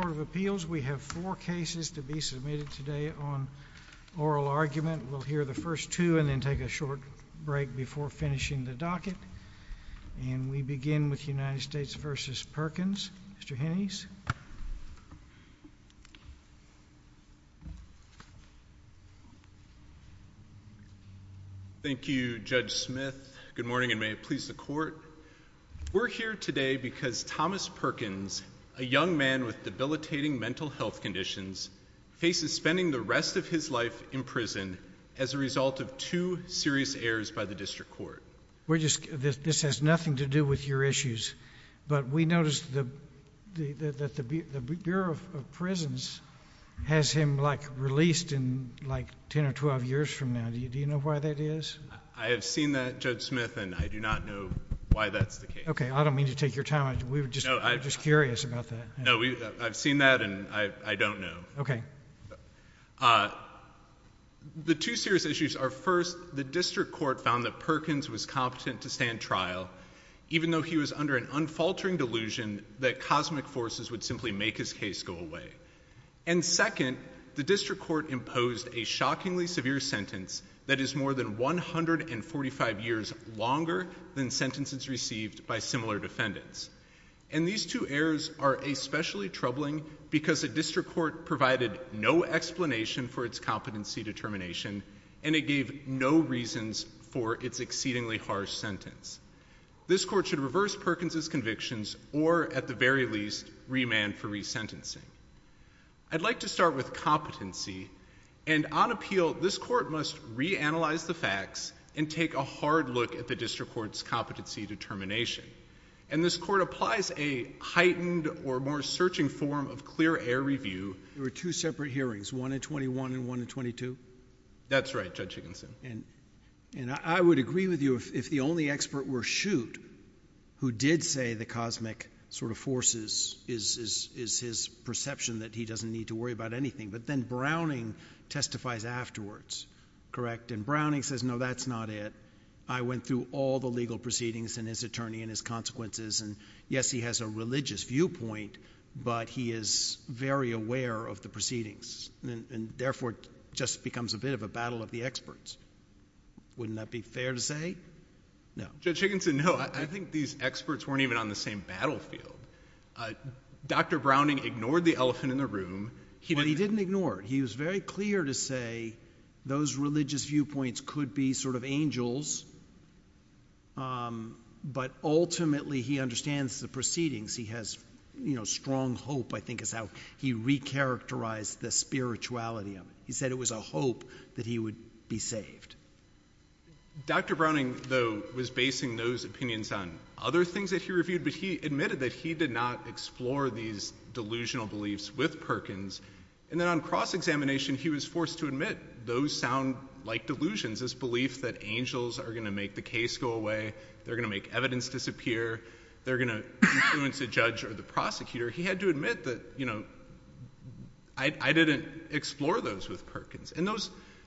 Court of Appeals. We have four cases to be submitted today on oral argument. We'll hear the first two and then take a short break before finishing the docket. And we begin with United States v. Perkins. Mr. Hennies. Thank you, Judge Smith. Good morning and may it please the court. We're here today because Thomas Perkins, a young man with debilitating mental health conditions, faces spending the rest of his life in prison as a result of two serious errors by the district court. This has nothing to do with your issues, but we noticed that the Bureau of Prisons has him released in 10 or 12 years from now. Do I have seen that, Judge Smith, and I do not know why that's the case. Okay, I don't mean to take your time. We were just curious about that. No, I've seen that and I don't know. Okay. The two serious issues are first, the district court found that Perkins was competent to stand trial even though he was under an unfaltering delusion that cosmic forces would simply make his case go away. And second, the district court imposed a shockingly severe sentence that is more than 145 years longer than sentences received by similar defendants. And these two errors are especially troubling because the district court provided no explanation for its competency determination and it gave no reasons for its exceedingly harsh sentence. This court should reverse Perkins's convictions or, at the very least, remand for resentencing. I'd like to start with competency. And on appeal, this court must reanalyze the facts and take a hard look at the district court's competency determination. And this court applies a heightened or more searching form of clear air review. There were two separate hearings, one in 21 and one in 22? That's right, Judge Higginson. And I would agree with you if the only expert were Shute, who did say the cosmic sort of forces is his perception that he doesn't need to worry about anything. But then Browning testifies afterwards, correct? And Browning says, no, that's not it. I went through all the legal proceedings and his attorney and his consequences. And yes, he has a religious viewpoint, but he is very aware of the proceedings and therefore just becomes a bit of a battle of the experts. Wouldn't that be fair to say? No. Judge Higginson, no. I think these experts weren't even on the same battlefield. Dr. Browning ignored the elephant in the room. He didn't ignore it. He was very clear to say those religious viewpoints could be sort of angels. But ultimately, he understands the proceedings. He has strong hope, I think, is how he recharacterized the spirituality of it. He said it was a hope that he would be saved. Dr. Browning, though, was basing those opinions on other things that he reviewed, but he admitted that he did not explore these delusional beliefs with Perkins. And then on cross-examination, he was forced to admit those sound like delusions, this belief that angels are going to make the case go away, they're going to make evidence disappear, they're going to influence a judge or the prosecutor. He had to admit that, you know, I didn't explore those with Perkins.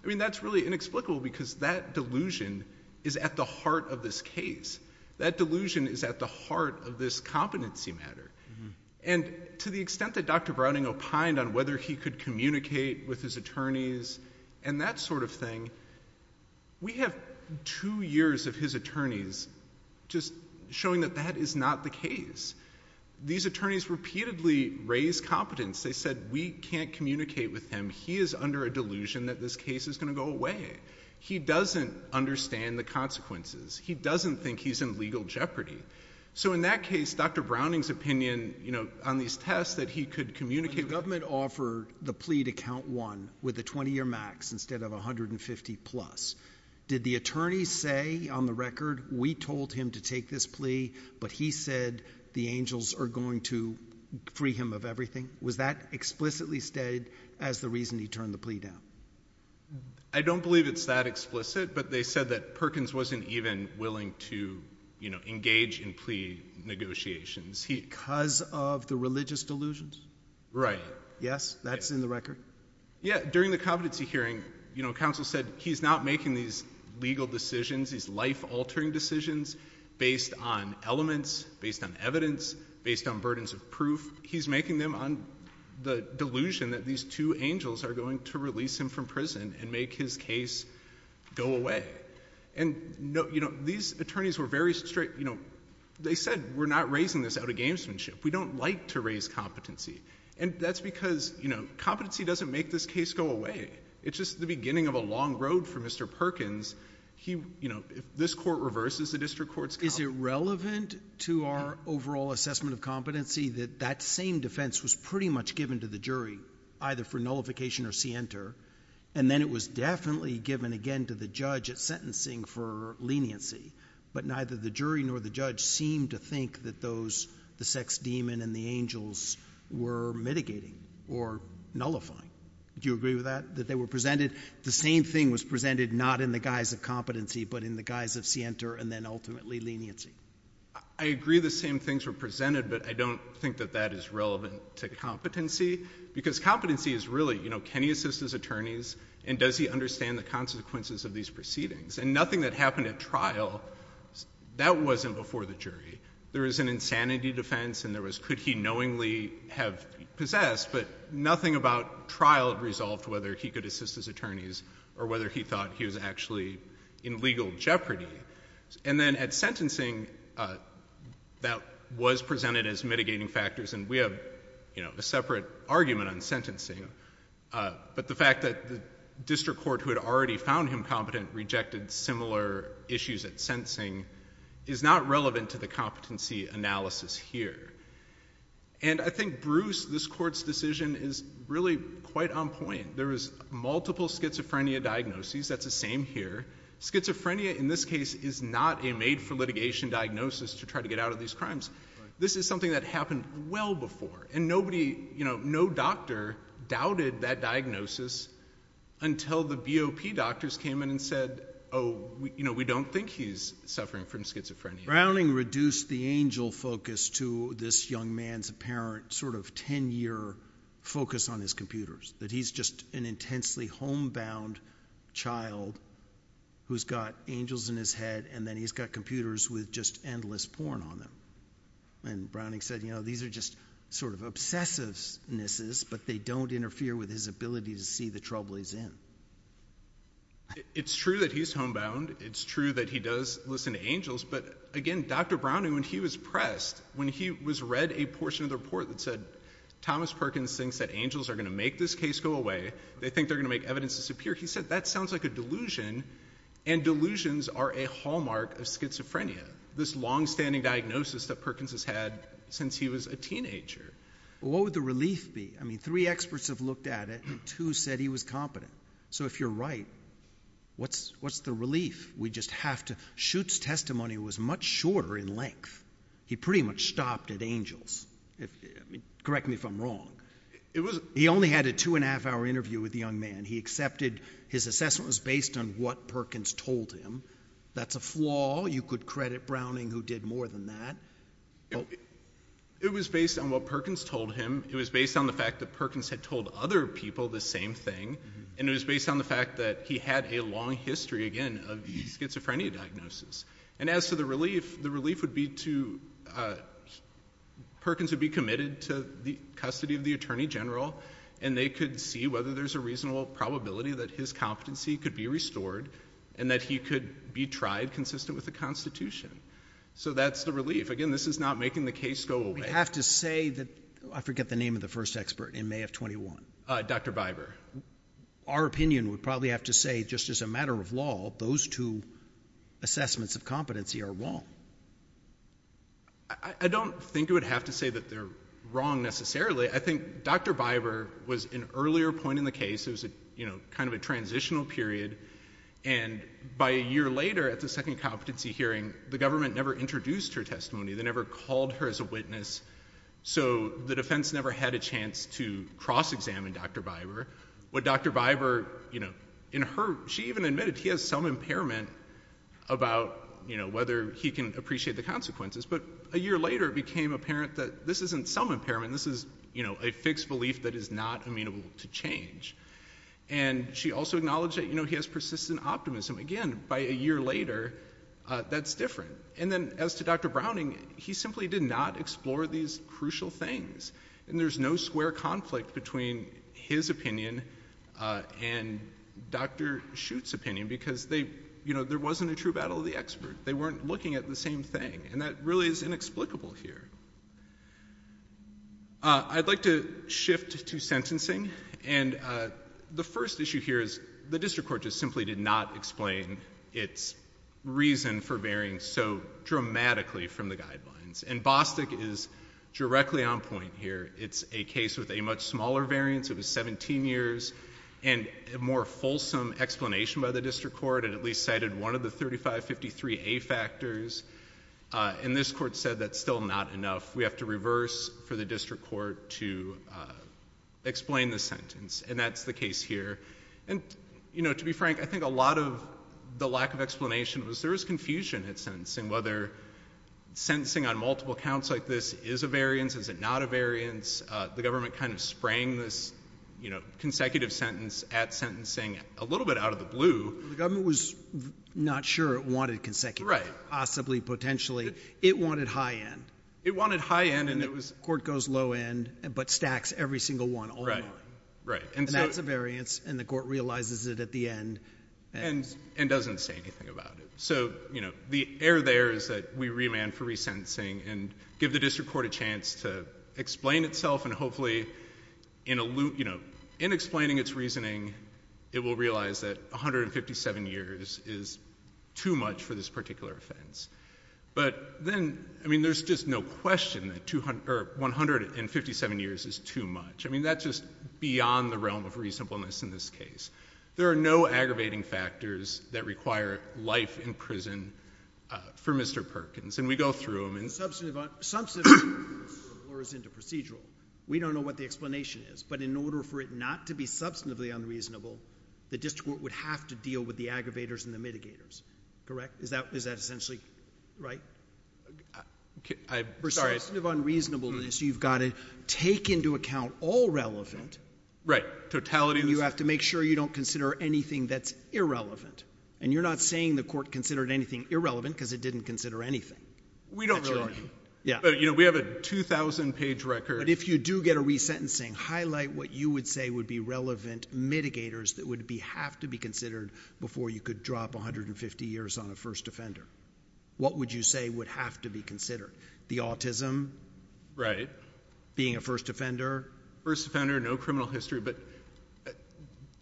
That's really inexplicable because that delusion is at the heart of this case. That delusion is at the heart of this competency matter. And to the extent that Dr. Browning opined on whether he could communicate with his attorneys and that sort of thing, we have two years of his attorneys just showing that that is not the case. These attorneys repeatedly raised incompetence. They said, we can't communicate with him. He is under a delusion that this case is going to go away. He doesn't understand the consequences. He doesn't think he's in legal jeopardy. So in that case, Dr. Browning's opinion, you know, on these tests that he could communicate with... When the government offered the plea to count one with a 20-year max instead of 150 plus, did the attorneys say on the record, we told him to take this plea, but he said the angels are going to free him of everything? Was that explicitly stated as the reason he turned the plea down? I don't believe it's that explicit, but they said that Perkins wasn't even willing to, you know, engage in plea negotiations. Because of the religious delusions? Right. Yes? That's in the record? Yeah. During the competency hearing, you know, counsel said he's not making these legal decisions, these life-altering decisions based on elements, based on evidence, based on burdens of proof. He's making them on the delusion that these two angels are going to release him from prison and make his case go away. And, you know, these attorneys were very straight, you know, they said, we're not raising this out of gamesmanship. We don't like to raise competency. And that's because, you know, competency doesn't make this case go away. It's just the beginning of a long road for Mr. Perkins. He, you know, if this court reverses the district court's comment. Is it relevant to our overall assessment of competency that that same defense was pretty much given to the jury, either for nullification or scienter, and then it was definitely given again to the judge at sentencing for leniency, but neither the jury nor the judge seemed to think that those, the sex demon and the angels were mitigating or nullifying. Do you agree that they were presented, the same thing was presented, not in the guise of competency, but in the guise of scienter and then ultimately leniency? I agree the same things were presented, but I don't think that that is relevant to competency because competency is really, you know, can he assist his attorneys and does he understand the consequences of these proceedings? And nothing that happened at trial, that wasn't before the jury. There was an insanity defense and there was could he knowingly have possessed, but nothing about trial resolved whether he could assist his attorneys or whether he thought he was actually in legal jeopardy. And then at sentencing that was presented as mitigating factors and we have, you know, a separate argument on sentencing, but the fact that the district court who had already found him competent rejected similar issues at sentencing is not relevant to the competency analysis here. And I think Bruce, this court's decision is really quite on point. There was multiple schizophrenia diagnoses. That's the same here. Schizophrenia in this case is not a made for litigation diagnosis to try to get out of these crimes. This is something that happened well before and nobody, you know, no doctor doubted that diagnosis until the BOP doctors came in and said, oh, you know, we don't think he's suffering from schizophrenia. Browning reduced the angel focus to this young man's apparent sort of 10-year focus on his computers, that he's just an intensely homebound child who's got angels in his head and then he's got computers with just endless porn on them. And Browning said, you know, these are just sort of obsessivenesses, but they don't interfere with his ability to see the trouble he's in. It's true that he's homebound. It's true that he does listen to angels. But again, Dr. Browning, when he was pressed, when he was read a portion of the report that said Thomas Perkins thinks that angels are going to make this case go away, they think they're going to make evidence disappear, he said that sounds like a delusion and delusions are a hallmark of schizophrenia. This long-standing diagnosis that Perkins has had since he was a teenager. Well, what would the relief be? I mean, three experts have looked at it and two said he was competent. So if you're right, what's the relief? We just have to, Shute's testimony was much shorter in length. He pretty much stopped at angels. Correct me if I'm wrong. He only had a two-and-a-half-hour interview with the young man. His assessment was based on what Perkins told him. That's a flaw. You could credit Browning, who did more than that. It was based on what Perkins told him. It was based on the fact that Perkins had told other people the same thing, and it was based on the fact that he had a long history, again, of the schizophrenia diagnosis. And as to the relief, the relief would be to, Perkins would be committed to the custody of the Attorney General, and they could see whether there's a reasonable probability that his competency could be restored and that he could be tried consistent with the Constitution. So that's the relief. Again, this is not making the case go away. I have to say that, I forget the name of the first expert in May of 21. Dr. Biber. Our opinion would probably have to say, just as a matter of law, those two assessments of competency are wrong. I don't think you would have to say that they're wrong necessarily. I think Dr. Biber was an earlier point in the case. It was kind of a transitional period, and by a year later at the second competency hearing, the government never introduced her testimony. They never called her as a witness, so the defense never had a chance to cross-examine Dr. Biber. What Dr. Biber, in her, she even admitted he has some impairment about whether he can appreciate the consequences, but a year later it became apparent that this isn't some impairment, this is a fixed belief that is not amenable to change. And she also acknowledged that he has persistent optimism. Again, by a year later, that's different. And then, as to Dr. Browning, he simply did not explore these crucial things, and there's no square conflict between his opinion and Dr. Shute's opinion, because they, you know, there wasn't a true battle of the expert. They weren't looking at the same thing, and that really is inexplicable here. I'd like to shift to sentencing, and the first issue here is the district court just simply did not explain its reason for varying so dramatically from the guidelines. And Bostick is directly on point here. It's a case with a much smaller variance, it was 17 years, and a more fulsome explanation by the district court, it at least cited one of the 3553A factors, and this court said that's still not enough, we have to reverse for the district court to explain the sentence, and that's the case here. And, you know, to be frank, I think a lot of the lack of explanation was there was confusion at sentencing, whether sentencing on multiple counts like this is a variance, is it not a variance, the government kind of sprang this, you know, consecutive sentence at sentencing a little bit out of the blue. Well, the government was not sure it wanted consecutive, possibly, potentially. It wanted high end. It wanted high end, and it was— Court goes low end, but stacks every single one online. Right, and so— And that's a variance, and the court realizes it at the end, and— And doesn't say anything about it. So, you know, the error there is that we remand for resentencing and give the district court a chance to explain itself, and hopefully, you know, in explaining its reasoning, it will realize that 157 years is too much for this particular offense. But then, I mean, there's just no question that 157 years is too much. I mean, that's just beyond the realm of reasonableness in this case. There are no aggravating factors that require life in prison for Mr. Perkins, and we go through them, and— Substantive—substantive unreasonable or is into procedural. We don't know what the explanation is, but in order for it not to be substantively unreasonable, the district court would have to deal with the aggravators and the mitigators, correct? Is that essentially right? I'm sorry— Right. Totality— We don't really— Yeah. But, you know, we have a 2,000-page record— Right. —for first offender, no criminal history, but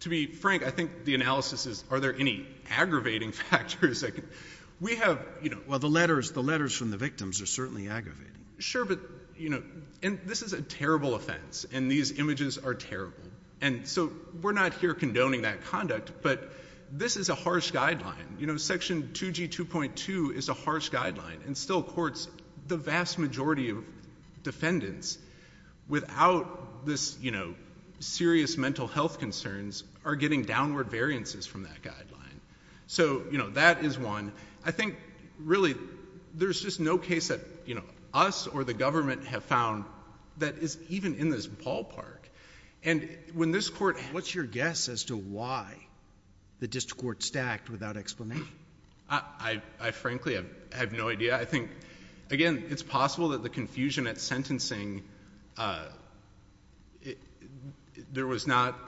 to be frank, I think the analysis is, are there any aggravating factors? We have, you know— Well, the letters—the letters from the victims are certainly aggravating. Sure, but, you know, and this is a terrible offense, and these images are terrible, and so we're not here condoning that conduct, but this is a harsh guideline. You know, Section 2G2.2 is a harsh guideline, and still courts, the vast majority of defendants without this, you know, serious mental health concerns are getting downward variances from that guideline. So, you know, that is one. I think, really, there's just no case that, you know, us or the government have found that is even in this ballpark. And when this court— What's your guess as to why the district court stacked without explanation? I frankly have no idea. I think, again, it's possible that the confusion at sentencing, there was not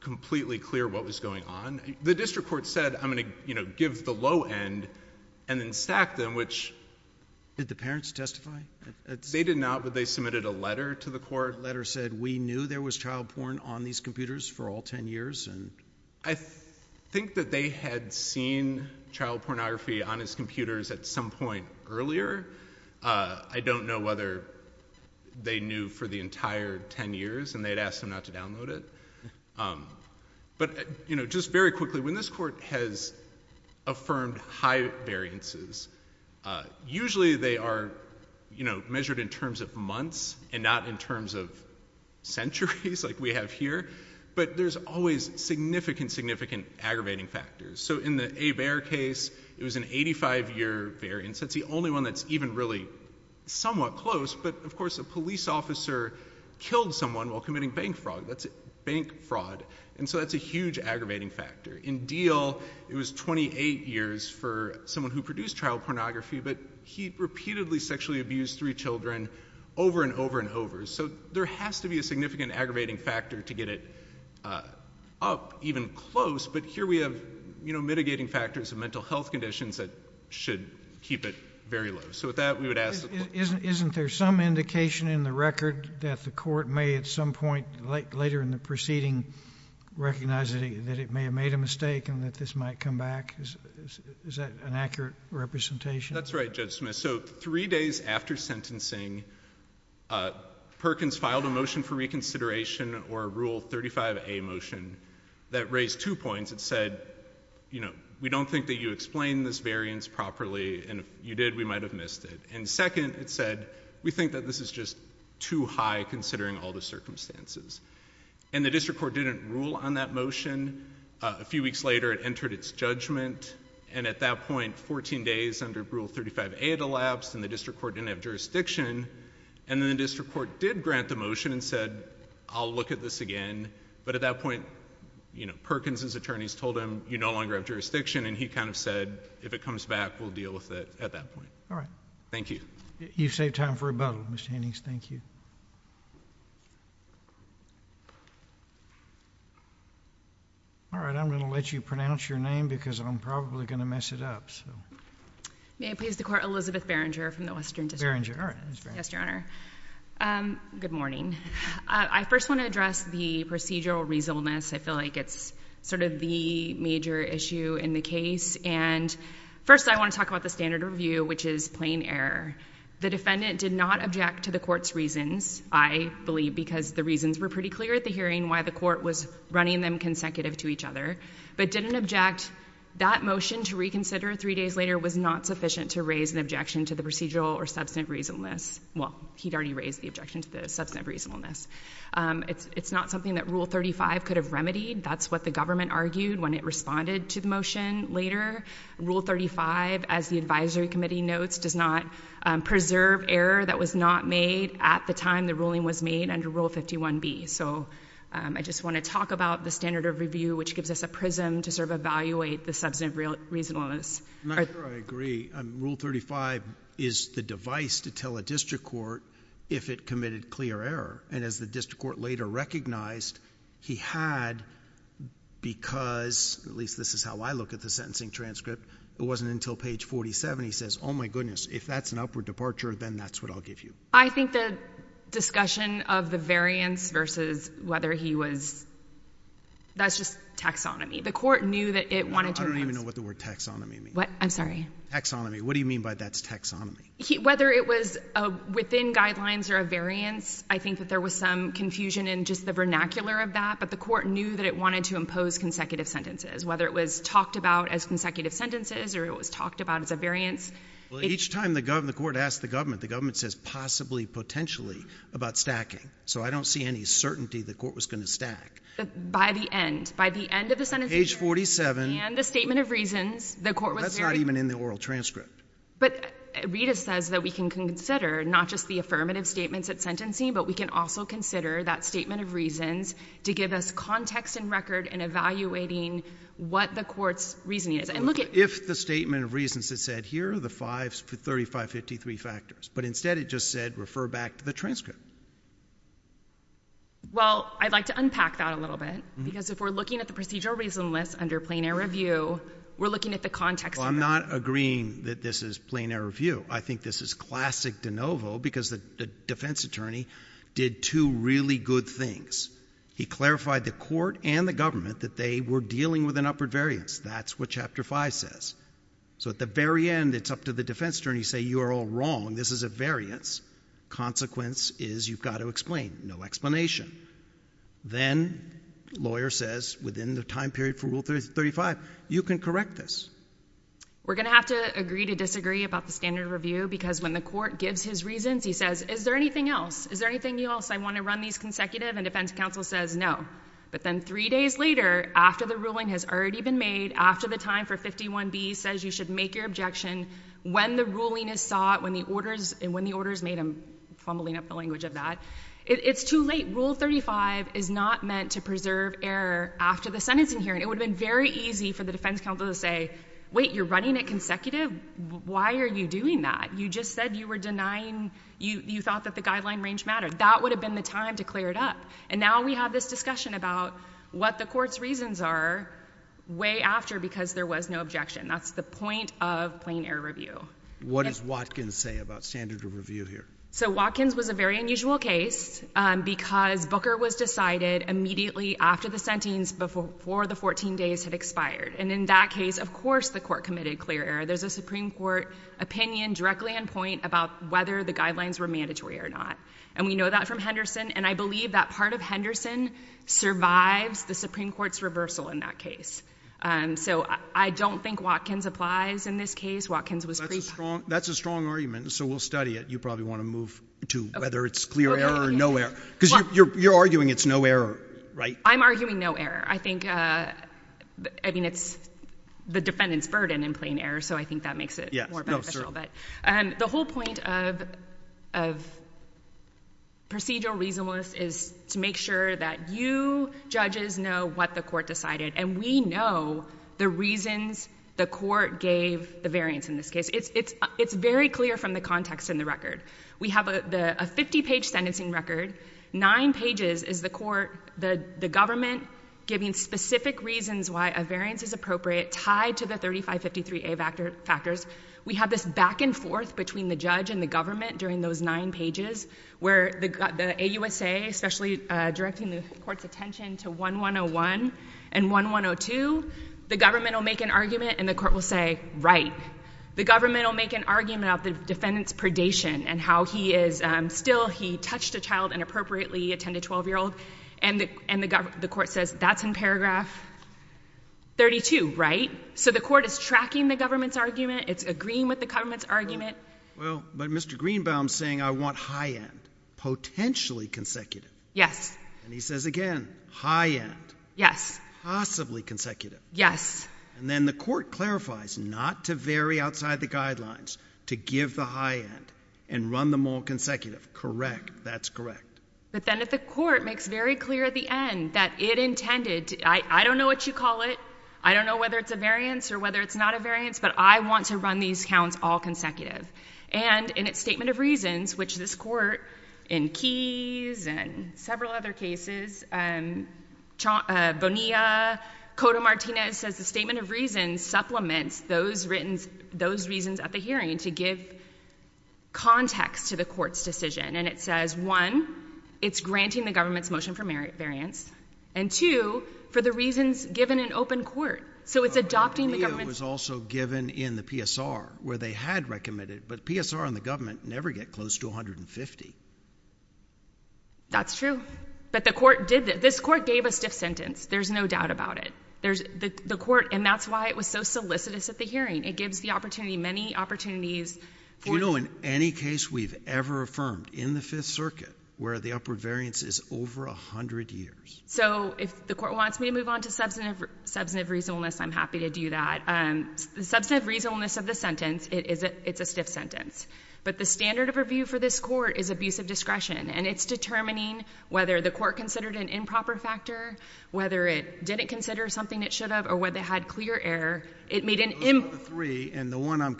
completely clear what was going on. The district court said, I'm going to, you know, give the low end and then stack them, which— Did the parents testify? They did not, but they submitted a letter to the court. The court letter said, we knew there was child porn on these computers for all 10 years, and— I think that they had seen child pornography on these computers at some point earlier. I don't know whether they knew for the entire 10 years, and they had asked them not to download it. But, you know, just very quickly, when this court has affirmed high variances, usually they are, you know, measured in terms of months and not in terms of centuries, like we have here. But there's always significant, significant aggravating factors. So in the Abare case, it was an 85-year variance. That's the only one that's even really somewhat close. But, of course, a police officer killed someone while committing bank fraud. That's bank fraud. And so that's a huge aggravating factor. In Diehl, it was 28 years for someone who produced child pornography, but he repeatedly sexually abused three children over and over and over. So there has to be a significant aggravating factor to get it up even close. But here we have, you know, mitigating factors and mental health conditions that should keep it very low. So with that, we would ask— Isn't there some indication in the record that the court may at some point later in the proceeding recognize that it may have made a mistake and that this might come back? Is that an accurate representation? That's right, Judge Smith. So three days after sentencing, Perkins filed a motion for reconsideration or a Rule 35a motion that raised two points. It said, you know, we don't think that you explained this variance properly, and if you did, we might have missed it. And second, it said, we think that this is just too high considering all the circumstances. And the district court didn't rule on that motion. A few weeks later, it entered its judgment, and at that point, 14 days under Rule 35a, it elapsed, and the district court didn't have jurisdiction. And then the district court did grant the motion and said, I'll look at this again. But at that point, you know, Perkins' attorneys told him, you no longer have jurisdiction, and he kind of said, if it comes back, we'll deal with it at that point. All right. Thank you. You've saved time for rebuttal. Ms. Hannings, thank you. All right. I'm going to let you pronounce your name, because I'm probably going to mess it up. May I please have the court, Elizabeth Berenger from the Western District? Berenger. All right. Yes, Your Honor. Good morning. I first want to address the procedural reasonableness. I feel like it's sort of the major issue in the case. And first, I want to talk about the standard review, which is plain error. The defendant did not object to the court's reasons, I believe, because the reasons were pretty clear at the hearing, why the court was running them consecutive to each other, but didn't object. That motion to reconsider three days later was not sufficient to raise an objection to the procedural or substantive reasonableness. Well, he'd already raised the objection to the substantive reasonableness. It's not something that Rule 35 could have remedied. That's what the government argued when it responded to the motion later. Rule 35, as the advisory committee notes, does not preserve error that was not made at the time the ruling was made under Rule 51B. So I just want to talk about the standard of review, which gives us a prism to sort of evaluate the substantive reasonableness. I'm not sure I agree. Rule 35 is the device to tell a district court if it committed clear error. And as the district court later recognized, he had because, at least this is how I look at the sentencing transcript, it wasn't until page 47 he says, oh, my goodness, if that's an upward departure, then that's what I'll give you. I think the discussion of the variance versus whether he was, that's just taxonomy. The court knew that it wanted to revise. I don't even know what the word taxonomy means. What? I'm sorry. Taxonomy. What do you mean by that's taxonomy? Whether it was within guidelines or a variance, I think that there was some confusion in just the vernacular of that, but the court knew that it wanted to impose consecutive sentences, whether it was talked about as consecutive sentences or it was talked about as a variance. Well, each time the court asked the government, the government says possibly, potentially about stacking. So I don't see any certainty the court was going to stack. By the end. By the end of the sentencing. Page 47. And the statement of reasons, the court was very. That's not even in the oral transcript. But Rita says that we can consider not just the affirmative statements at sentencing, but we can also consider that statement of reasons to give us context and record in evaluating what the court's reasoning is. And look at. If the statement of reasons that said here are the five, 3553 factors, but instead it just said refer back to the transcript. Well, I'd like to unpack that a little bit, because if we're looking at the procedural reason list under plain air review, we're looking at the context. Well, I'm not agreeing that this is plain air review. I think this is classic de novo because the defense attorney did two really good things. He clarified the court and the government that they were dealing with an upward variance. That's what chapter five says. So at the very end, it's up to the defense attorney to say you are all wrong. This is a variance. Consequence is you've got to explain. No explanation. Then lawyer says within the time period for rule 35, you can correct this. We're going to have to agree to disagree about the standard review, because when the court gives his reasons, he says, is there anything else? Is there anything else? I want to run these consecutive. And defense counsel says no. But then three days later, after the ruling has already been made, after the time for 51B says you should make your objection, when the ruling is sought and when the order is made, I'm fumbling up the language of that, it's too late. Rule 35 is not meant to preserve error after the sentencing hearing. It would have been very easy for the defense counsel to say, wait, you're running it consecutive? Why are you doing that? You just said you were denying you thought that the guideline range mattered. That would have been the time to clear it up. And now we have this discussion about what the court's reasons are way after because there was no objection. That's the point of plain error review. What does Watkins say about standard of review here? So Watkins was a very unusual case because Booker was decided immediately after the sentencing before the 14 days had expired. And in that case, of course, the court committed clear error. There's a Supreme Court opinion directly in point about whether the guidelines were mandatory or not. And we know that from Henderson, and I believe that part of Henderson survives the Supreme Court's reversal in that case. So I don't think Watkins applies in this case. Watkins was pre-packed. That's a strong argument, so we'll study it. You probably want to move to whether it's clear error or no error. Because you're arguing it's no error, right? I'm arguing no error. I think it's the defendant's burden in plain error, so I think that makes it more beneficial. The whole point of procedural reasonableness is to make sure that you judges know what the court decided, and we know the reasons the court gave the variance in this case. It's very clear from the context in the record. We have a 50-page sentencing record. Nine pages is the court, the government, giving specific reasons why a variance is appropriate, tied to the 3553A factors. We have this back and forth between the judge and the government during those nine pages where the AUSA, especially directing the court's attention to 1101 and 1102, the government will make an argument and the court will say, right. The government will make an argument of the defendant's predation and how he is still, he touched a child inappropriately, a 10- to 12-year-old. And the court says that's in paragraph 32, right? So the court is tracking the government's argument. It's agreeing with the government's argument. Well, but Mr. Greenbaum is saying I want high end, potentially consecutive. Yes. And he says again, high end. Yes. Possibly consecutive. Yes. And then the court clarifies not to vary outside the guidelines, to give the high end and run them all consecutive. Correct. That's correct. But then if the court makes very clear at the end that it intended, I don't know what you call it, I don't know whether it's a variance or whether it's not a variance, but I want to run these counts all consecutive. And in its statement of reasons, which this court in Keyes and several other cases, Bonilla, Cotto-Martinez, says the statement of reasons supplements those reasons at the hearing to give context to the court's decision. And it says, one, it's granting the government's motion for variance, and two, for the reasons given in open court. So it's adopting the government's. Bonilla was also given in the PSR where they had recommended, but PSR and the government never get close to 150. That's true. But the court did that. This court gave a stiff sentence. There's no doubt about it. And that's why it was so solicitous at the hearing. It gives the opportunity, many opportunities. Do you know in any case we've ever affirmed in the Fifth Circuit where the upward variance is over 100 years? So if the court wants me to move on to substantive reasonableness, I'm happy to do that. Substantive reasonableness of the sentence, it's a stiff sentence. But the standard of review for this court is abusive discretion, and it's determining whether the court considered an improper factor, whether it didn't consider something it should have, or whether it had clear error. Those are the three, and the one I'm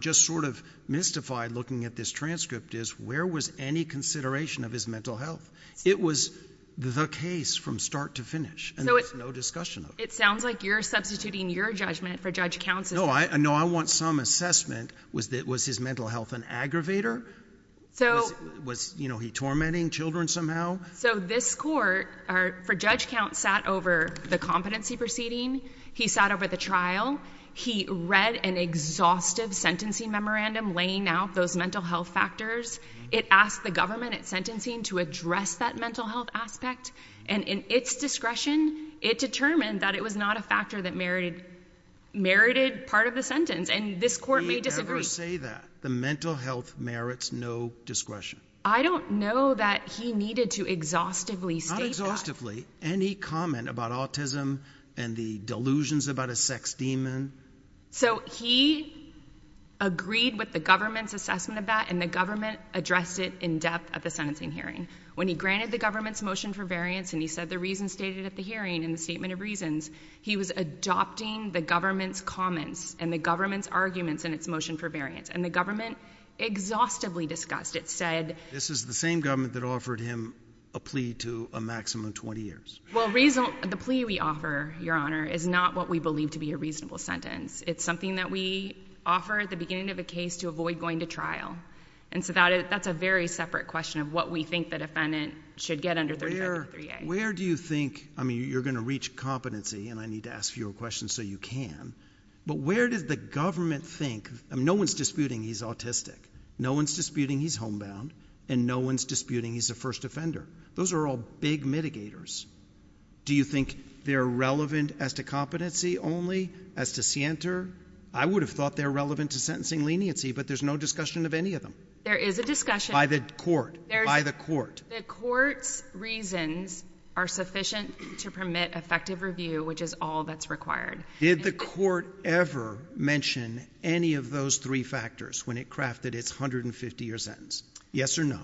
just sort of mystified looking at this transcript is where was any consideration of his mental health? It was the case from start to finish, and there's no discussion of it. It sounds like you're substituting your judgment for Judge Count's. No, I want some assessment. Was his mental health an aggravator? Was he tormenting children somehow? So this court, for Judge Count, sat over the competency proceeding. He sat over the trial. He read an exhaustive sentencing memorandum laying out those mental health factors. It asked the government at sentencing to address that mental health aspect, and in its discretion, it determined that it was not a factor that merited part of the sentence, and this court may disagree. We never say that. The mental health merits no discretion. I don't know that he needed to exhaustively state that. Not exhaustively. Any comment about autism and the delusions about a sex demon. So he agreed with the government's assessment of that, and the government addressed it in depth at the sentencing hearing. When he granted the government's motion for variance and he said the reasons stated at the hearing in the statement of reasons, he was adopting the government's comments and the government's arguments in its motion for variance, and the government exhaustively discussed it. This is the same government that offered him a plea to a maximum of 20 years. Well, the plea we offer, Your Honor, is not what we believe to be a reasonable sentence. It's something that we offer at the beginning of a case to avoid going to trial, and so that's a very separate question of what we think the defendant should get under 35 to 3A. Where do you think, I mean, you're going to reach competency, and I need to ask you a question so you can, but where does the government think, I mean, no one's disputing he's autistic, no one's disputing he's homebound, and no one's disputing he's the first offender. Those are all big mitigators. Do you think they're relevant as to competency only, as to scienter? I would have thought they're relevant to sentencing leniency, but there's no discussion of any of them. There is a discussion. By the court. By the court. The court's reasons are sufficient to permit effective review, which is all that's required. Did the court ever mention any of those three factors when it crafted its 150-year sentence? Yes or no?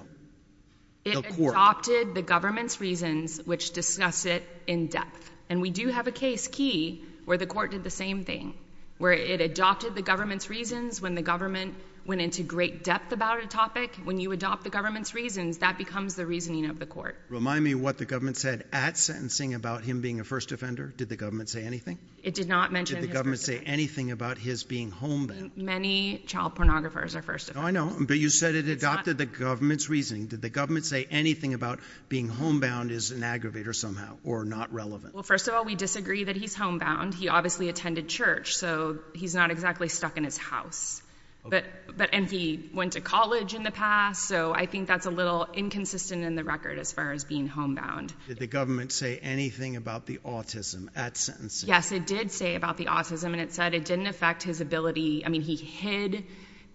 It adopted the government's reasons, which discuss it in depth, and we do have a case key where the court did the same thing, where it adopted the government's reasons when the government went into great depth about a topic. When you adopt the government's reasons, that becomes the reasoning of the court. Remind me what the government said at sentencing about him being a first offender. Did the government say anything? It did not mention his first offender. Did the government say anything about his being homebound? Many child pornographers are first offenders. I know, but you said it adopted the government's reasoning. Did the government say anything about being homebound as an aggravator somehow or not relevant? Well, first of all, we disagree that he's homebound. He obviously attended church, so he's not exactly stuck in his house. And he went to college in the past, so I think that's a little inconsistent in the record as far as being homebound. Did the government say anything about the autism at sentencing? Yes, it did say about the autism, and it said it didn't affect his ability. I mean, he hid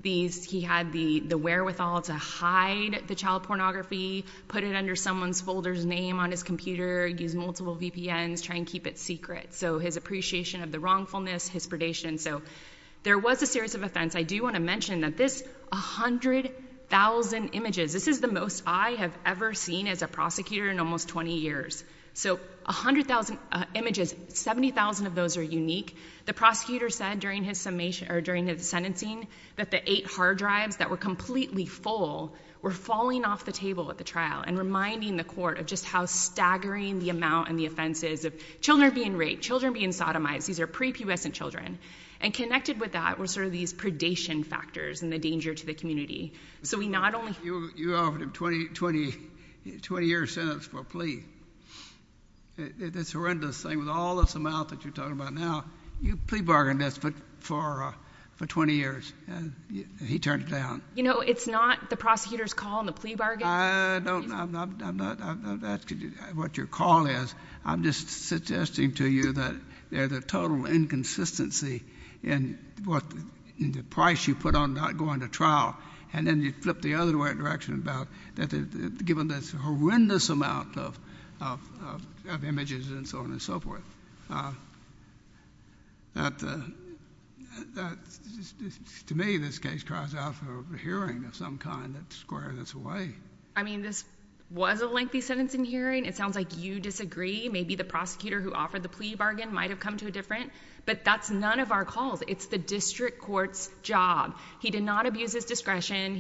these. He had the wherewithal to hide the child pornography, put it under someone's folder's name on his computer, use multiple VPNs, try and keep it secret. So his appreciation of the wrongfulness, his predation. So there was a series of offense. I do want to mention that this 100,000 images, this is the most I have ever seen as a prosecutor in almost 20 years. So 100,000 images, 70,000 of those are unique. The prosecutor said during his sentencing that the eight hard drives that were completely full were falling off the table at the trial and reminding the court of just how staggering the amount and the offenses of children being raped, children being sodomized. These are prepubescent children. And connected with that were sort of these predation factors and the danger to the community. So we not only... You offered him 20-year sentence for a plea. It's a horrendous thing. With all this amount that you're talking about now, you plea bargained this for 20 years, and he turned it down. You know, it's not the prosecutor's call and the plea bargain. I'm not asking what your call is. I'm just suggesting to you that there's a total inconsistency in the price you put on not going to trial, and then you flip the other direction about given this horrendous amount of images and so on and so forth. To me, this case cries out for a hearing of some kind that squares us away. I mean, this was a lengthy sentence in hearing. It sounds like you disagree. Maybe the prosecutor who offered the plea bargain might have come to a different. But that's none of our calls. It's the district court's job. He did not abuse his discretion.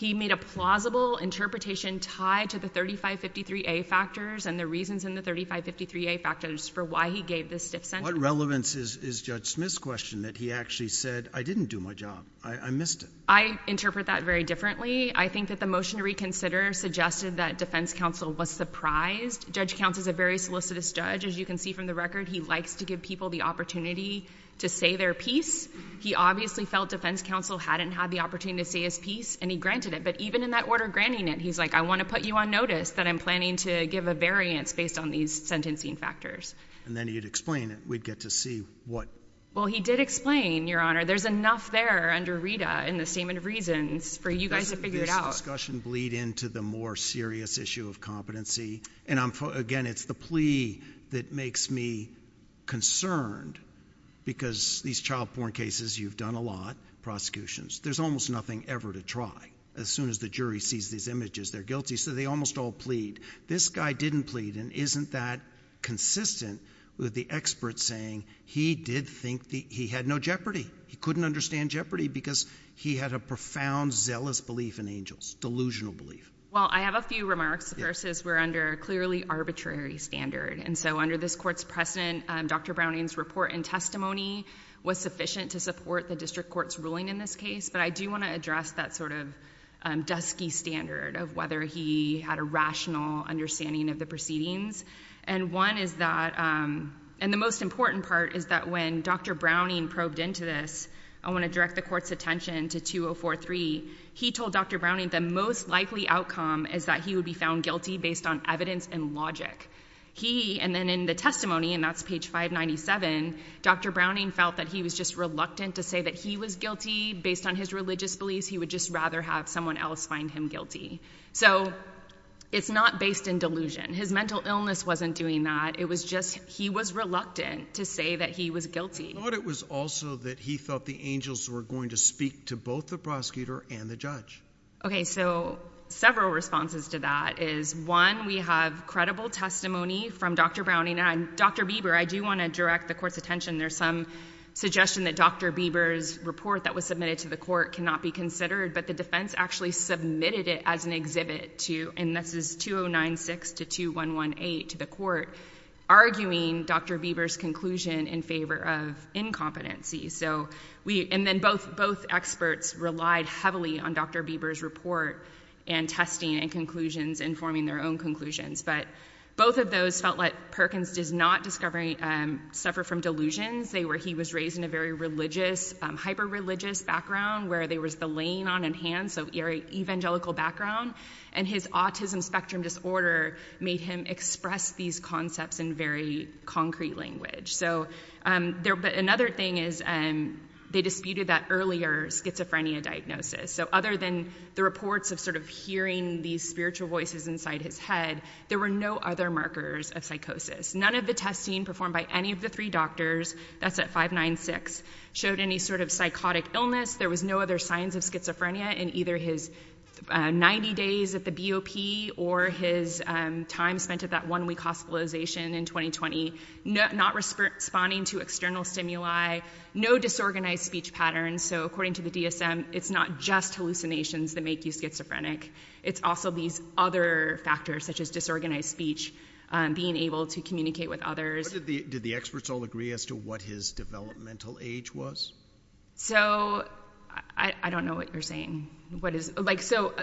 He made a plausible interpretation tied to the 3553A factors and the reasons in the 3553A factors for why he gave this stiff sentence. What relevance is Judge Smith's question that he actually said, I didn't do my job. I missed it. I interpret that very differently. I think that the motion to reconsider suggested that defense counsel was surprised. Judge Counts is a very solicitous judge. As you can see from the record, he likes to give people the opportunity to say their piece. He obviously felt defense counsel hadn't had the opportunity to say his piece, and he granted it. But even in that order granting it, he's like, I want to put you on notice that I'm planning to give a variance based on these sentencing factors. And then he'd explain it. We'd get to see what. Well, he did explain, Your Honor, there's enough there under RITA in the statement of reasons for you guys to figure it out. Doesn't this discussion bleed into the more serious issue of competency? And, again, it's the plea that makes me concerned because these child-born cases you've done a lot, prosecutions, there's almost nothing ever to try. As soon as the jury sees these images, they're guilty. So they almost all plead. This guy didn't plead and isn't that consistent with the expert saying he did think he had no jeopardy. He couldn't understand jeopardy because he had a profound, zealous belief in angels, delusional belief. Well, I have a few remarks versus we're under a clearly arbitrary standard. And so under this court's precedent, Dr. Browning's report and testimony was sufficient to support the district court's ruling in this case. But I do want to address that sort of dusky standard of whether he had a rational understanding of the proceedings. And one is that, and the most important part is that when Dr. Browning probed into this, I want to direct the court's attention to 2043, he told Dr. Browning the most likely outcome is that he would be found guilty based on evidence and logic. He, and then in the testimony, and that's page 597, Dr. Browning felt that he was just reluctant to say that he was guilty based on his religious beliefs. He would just rather have someone else find him guilty. So it's not based in delusion. His mental illness wasn't doing that. It was just he was reluctant to say that he was guilty. I thought it was also that he thought the angels were going to speak to both the prosecutor and the judge. Okay, so several responses to that is, one, we have credible testimony from Dr. Browning, and Dr. Bieber, I do want to direct the court's attention. There's some suggestion that Dr. Bieber's report that was submitted to the court cannot be considered, but the defense actually submitted it as an exhibit to, and this is 2096 to 2118 to the court, arguing Dr. Bieber's conclusion in favor of incompetency. So we, and then both experts relied heavily on Dr. Bieber's report and testing and conclusions and forming their own conclusions. But both of those felt like Perkins does not discover, suffer from delusions. He was raised in a very religious, hyper-religious background where there was the laying on of hands, so evangelical background, and his autism spectrum disorder made him express these concepts in very concrete language. But another thing is they disputed that earlier schizophrenia diagnosis. So other than the reports of sort of hearing these spiritual voices inside his head, there were no other markers of psychosis. None of the testing performed by any of the three doctors, that's at 596, showed any sort of psychotic illness. There was no other signs of schizophrenia in either his 90 days at the BOP or his time spent at that one-week hospitalization in 2020, not responding to external stimuli, no disorganized speech patterns. So according to the DSM, it's not just hallucinations that make you schizophrenic. It's also these other factors, such as disorganized speech, being able to communicate with others. Did the experts all agree as to what his developmental age was? So I don't know what you're saying. So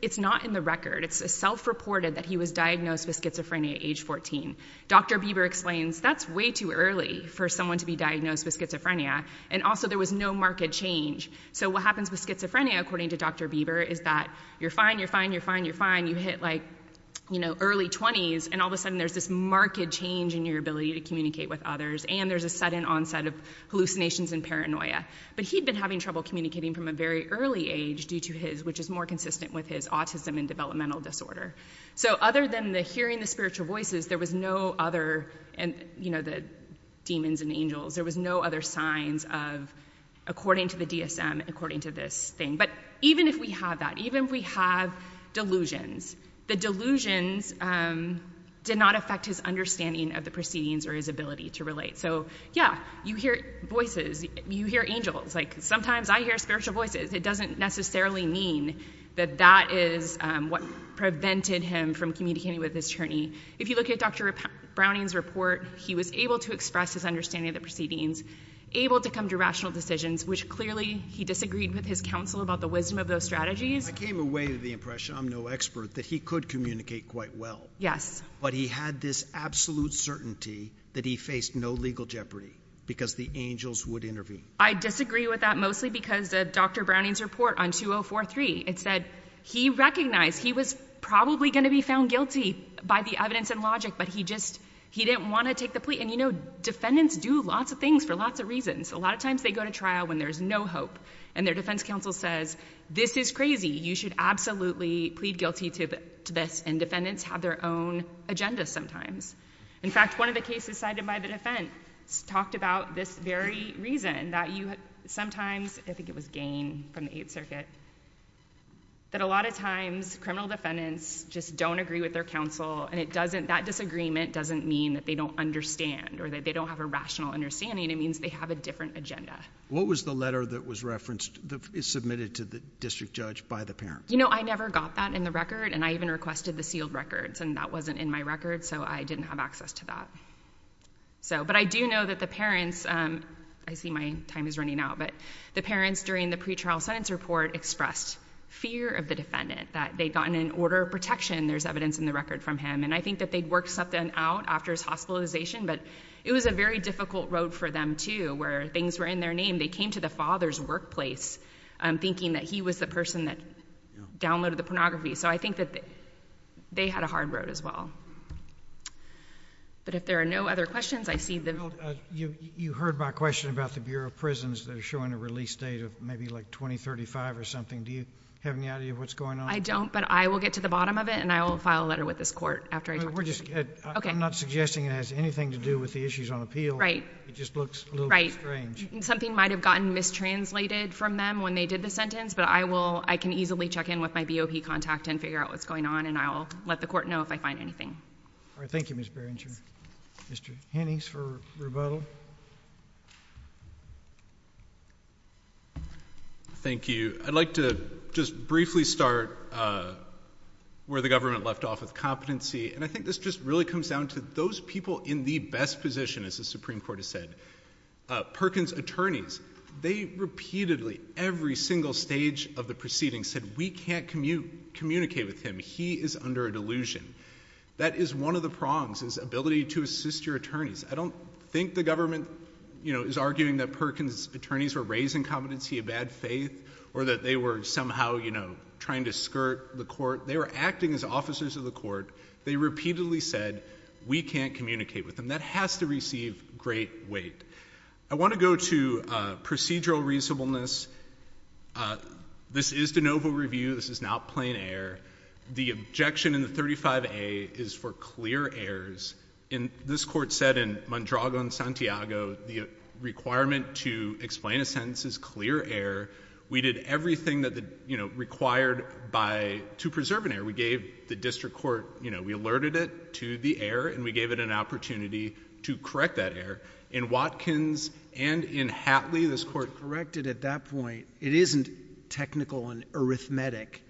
it's not in the record. It's self-reported that he was diagnosed with schizophrenia at age 14. Dr. Bieber explains that's way too early for someone to be diagnosed with schizophrenia, and also there was no marked change. So what happens with schizophrenia, according to Dr. Bieber, is that you're fine, you're fine, you're fine, you're fine. But then you get, like, you know, early 20s, and all of a sudden there's this marked change in your ability to communicate with others, and there's a sudden onset of hallucinations and paranoia. But he'd been having trouble communicating from a very early age due to his, which is more consistent with his, autism and developmental disorder. So other than the hearing the spiritual voices, there was no other, you know, the demons and angels, there was no other signs of, according to the DSM, according to this thing. But even if we have that, even if we have delusions, the delusions did not affect his understanding of the proceedings or his ability to relate. So, yeah, you hear voices, you hear angels. Like, sometimes I hear spiritual voices. It doesn't necessarily mean that that is what prevented him from communicating with his attorney. If you look at Dr. Browning's report, he was able to express his understanding of the proceedings, able to come to rational decisions, which clearly he disagreed with his counsel about the wisdom of those strategies. I came away with the impression, I'm no expert, that he could communicate quite well. Yes. But he had this absolute certainty that he faced no legal jeopardy because the angels would intervene. I disagree with that mostly because of Dr. Browning's report on 2043. It said he recognized he was probably going to be found guilty by the evidence and logic, but he just, he didn't want to take the plea. And, you know, defendants do lots of things for lots of reasons. A lot of times they go to trial when there's no hope, and their defense counsel says, this is crazy. You should absolutely plead guilty to this. And defendants have their own agenda sometimes. In fact, one of the cases cited by the defense talked about this very reason that you sometimes, I think it was Gain from the Eighth Circuit, that a lot of times criminal defendants just don't agree with their counsel, and that disagreement doesn't mean that they don't understand or that they don't have a rational understanding. It means they have a different agenda. What was the letter that was referenced, submitted to the district judge by the parents? You know, I never got that in the record, and I even requested the sealed records, and that wasn't in my record, so I didn't have access to that. But I do know that the parents, I see my time is running out, but the parents during the pretrial sentence report expressed fear of the defendant, that they'd gotten an order of protection. There's evidence in the record from him. And I think that they'd worked something out after his hospitalization, but it was a very difficult road for them, too, where things were in their name. They came to the father's workplace thinking that he was the person that downloaded the pornography. So I think that they had a hard road as well. But if there are no other questions, I see the... You heard my question about the Bureau of Prisons that are showing a release date of maybe, like, 2035 or something. Do you have any idea what's going on? I don't, but I will get to the bottom of it, and I will file a letter with this court after I talk to them. We're just... I'm not suggesting it has anything to do with the issues on appeal. Right. It just looks a little bit strange. Something might have gotten mistranslated from them when they did the sentence, but I can easily check in with my BOP contact and figure out what's going on, and I'll let the court know if I find anything. All right. Thank you, Ms. Berringer. Mr. Hennings for rebuttal. Thank you. I'd like to just briefly start where the government left off with competency. And I think this just really comes down to those people in the best position, as the Supreme Court has said. Perkins attorneys, they repeatedly, every single stage of the proceedings, said, we can't communicate with him. He is under a delusion. That is one of the prongs, is ability to assist your attorneys. I don't think the government, you know, is arguing that Perkins attorneys were raising competency of bad faith or that they were somehow, you know, trying to skirt the court. They were acting as officers of the court. They repeatedly said, we can't communicate with him. That has to receive great weight. I want to go to procedural reasonableness. This is de novo review. This is not plain error. The objection in the 35A is for clear errors. And this court said in Mondrago and Santiago, the requirement to explain a sentence is clear error. We did everything that, you know, required to preserve an error. We gave the district court, you know, we alerted it to the error, and we gave it an opportunity to correct that error. In Watkins and in Hatley, this court corrected at that point. It isn't technical and arithmetic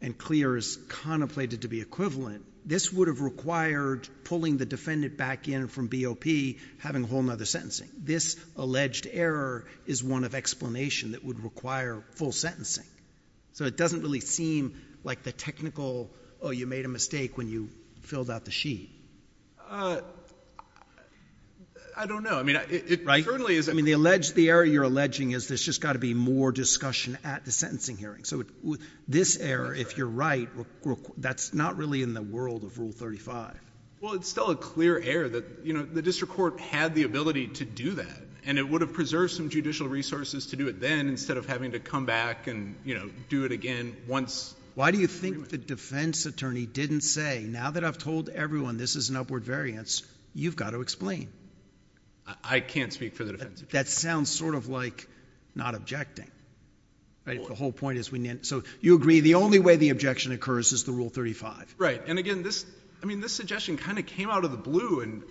and clear as contemplated to be equivalent. This would have required pulling the defendant back in from BOP, having a whole other sentencing. This alleged error is one of explanation that would require full sentencing. So it doesn't really seem like the technical, oh, you made a mistake when you filled out the sheet. I don't know. Right? I mean, the error you're alleging is there's just got to be more discussion at the sentencing hearing. So this error, if you're right, that's not really in the world of Rule 35. Well, it's still a clear error that, you know, the district court had the ability to do that. And it would have preserved some judicial resources to do it then instead of having to come back and, you know, do it again once. Why do you think the defense attorney didn't say, now that I've told everyone this is an upward variance, you've got to explain? I can't speak for the defense attorney. That sounds sort of like not objecting. Right? If the whole point is we needn't. So you agree the only way the objection occurs is the Rule 35? Right. And, again, this suggestion kind of came out of the blue.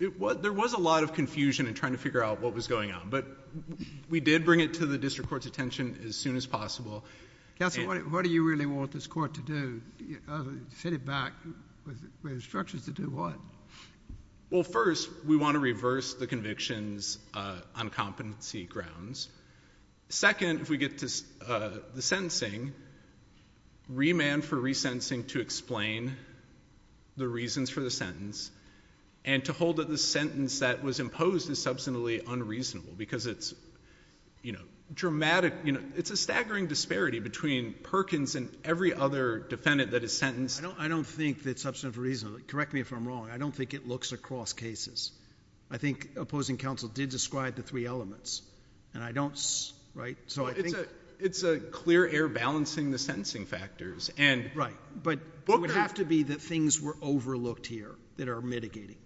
There was a lot of confusion in trying to figure out what was going on. But we did bring it to the district court's attention as soon as possible. Counsel, what do you really want this court to do? Set it back with instructions to do what? Well, first, we want to reverse the convictions on competency grounds. Second, if we get to the sentencing, remand for resentencing to explain the reasons for the sentence and to hold that the sentence that was imposed is substantively unreasonable because it's, you know, dramatic. You know, it's a staggering disparity between Perkins and every other defendant that is sentenced. I don't think it's substantively unreasonable. Correct me if I'm wrong. I don't think it looks across cases. I think opposing counsel did describe the three elements. And I don't, right? It's a clear error balancing the sentencing factors. Right. But it would have to be that things were overlooked here that are mitigating.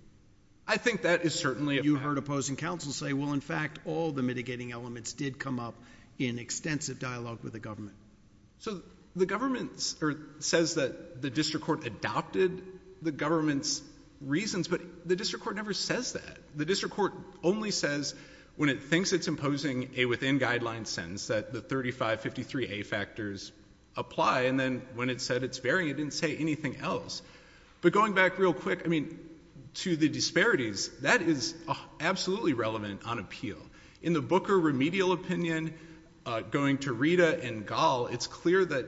I think that is certainly a fact. You heard opposing counsel say, well, in fact, all the mitigating elements did come up in extensive dialogue with the government. So the government says that the district court adopted the government's reasons, but the district court never says that. The district court only says when it thinks it's imposing a within-guidelines sentence that the 3553A factors apply. And then when it said it's varying, it didn't say anything else. But going back real quick, I mean, to the disparities, that is absolutely relevant on appeal. In the Booker remedial opinion, going to Rita and Gall, it's clear that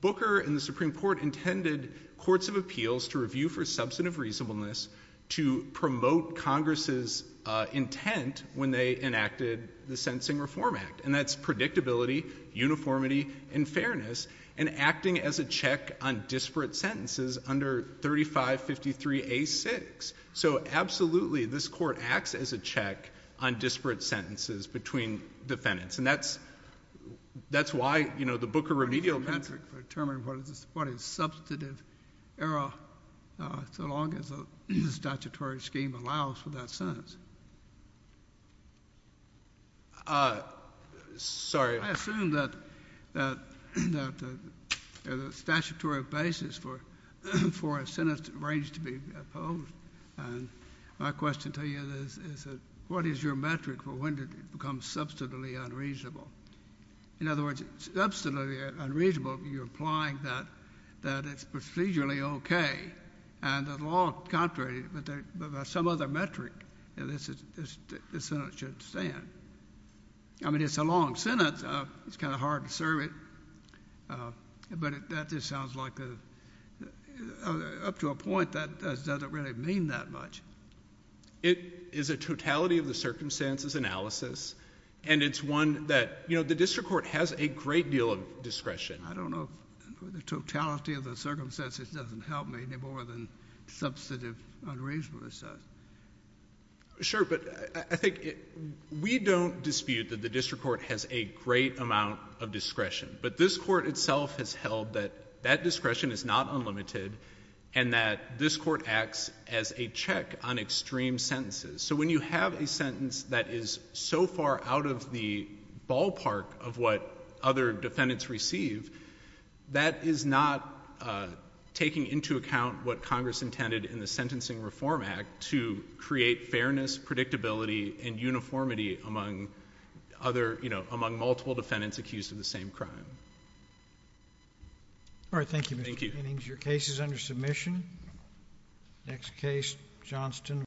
Booker and the Supreme Court intended courts of appeals to review for substantive reasonableness to promote Congress's intent when they enacted the Sentencing Reform Act. And that's predictability, uniformity, and fairness, and acting as a check on disparate sentences under 3553A-6. So, absolutely, this Court acts as a check on disparate sentences between defendants. And that's why the Booker remedial— It's a metric for determining what is substantive error so long as the statutory scheme allows for that sentence. Uh, sorry. I assume that the statutory basis for a sentence arranged to be opposed. And my question to you is, what is your metric for when it becomes substantively unreasonable? In other words, substantively unreasonable, you're implying that it's procedurally okay, and the law contrary, but there's some other metric that this sentence should stand. I mean, it's a long sentence. It's kind of hard to serve it. But that just sounds like up to a point, that doesn't really mean that much. It is a totality of the circumstances analysis, and it's one that, you know, the district court has a great deal of discretion. I don't know if the totality of the circumstances doesn't help me any more than substantive unreasonableness does. Sure. But I think we don't dispute that the district court has a great amount of discretion. But this Court itself has held that that discretion is not unlimited and that this Court acts as a check on extreme sentences. So when you have a sentence that is so far out of the ballpark of what other defendants receive, that is not taking into account what Congress intended in the Sentencing Reform Act to create fairness, predictability, and uniformity among other, you know, among multiple defendants accused of the same crime. All right. Thank you, Mr. Kinnings. Thank you. Your case is under submission. Next case, Johnston.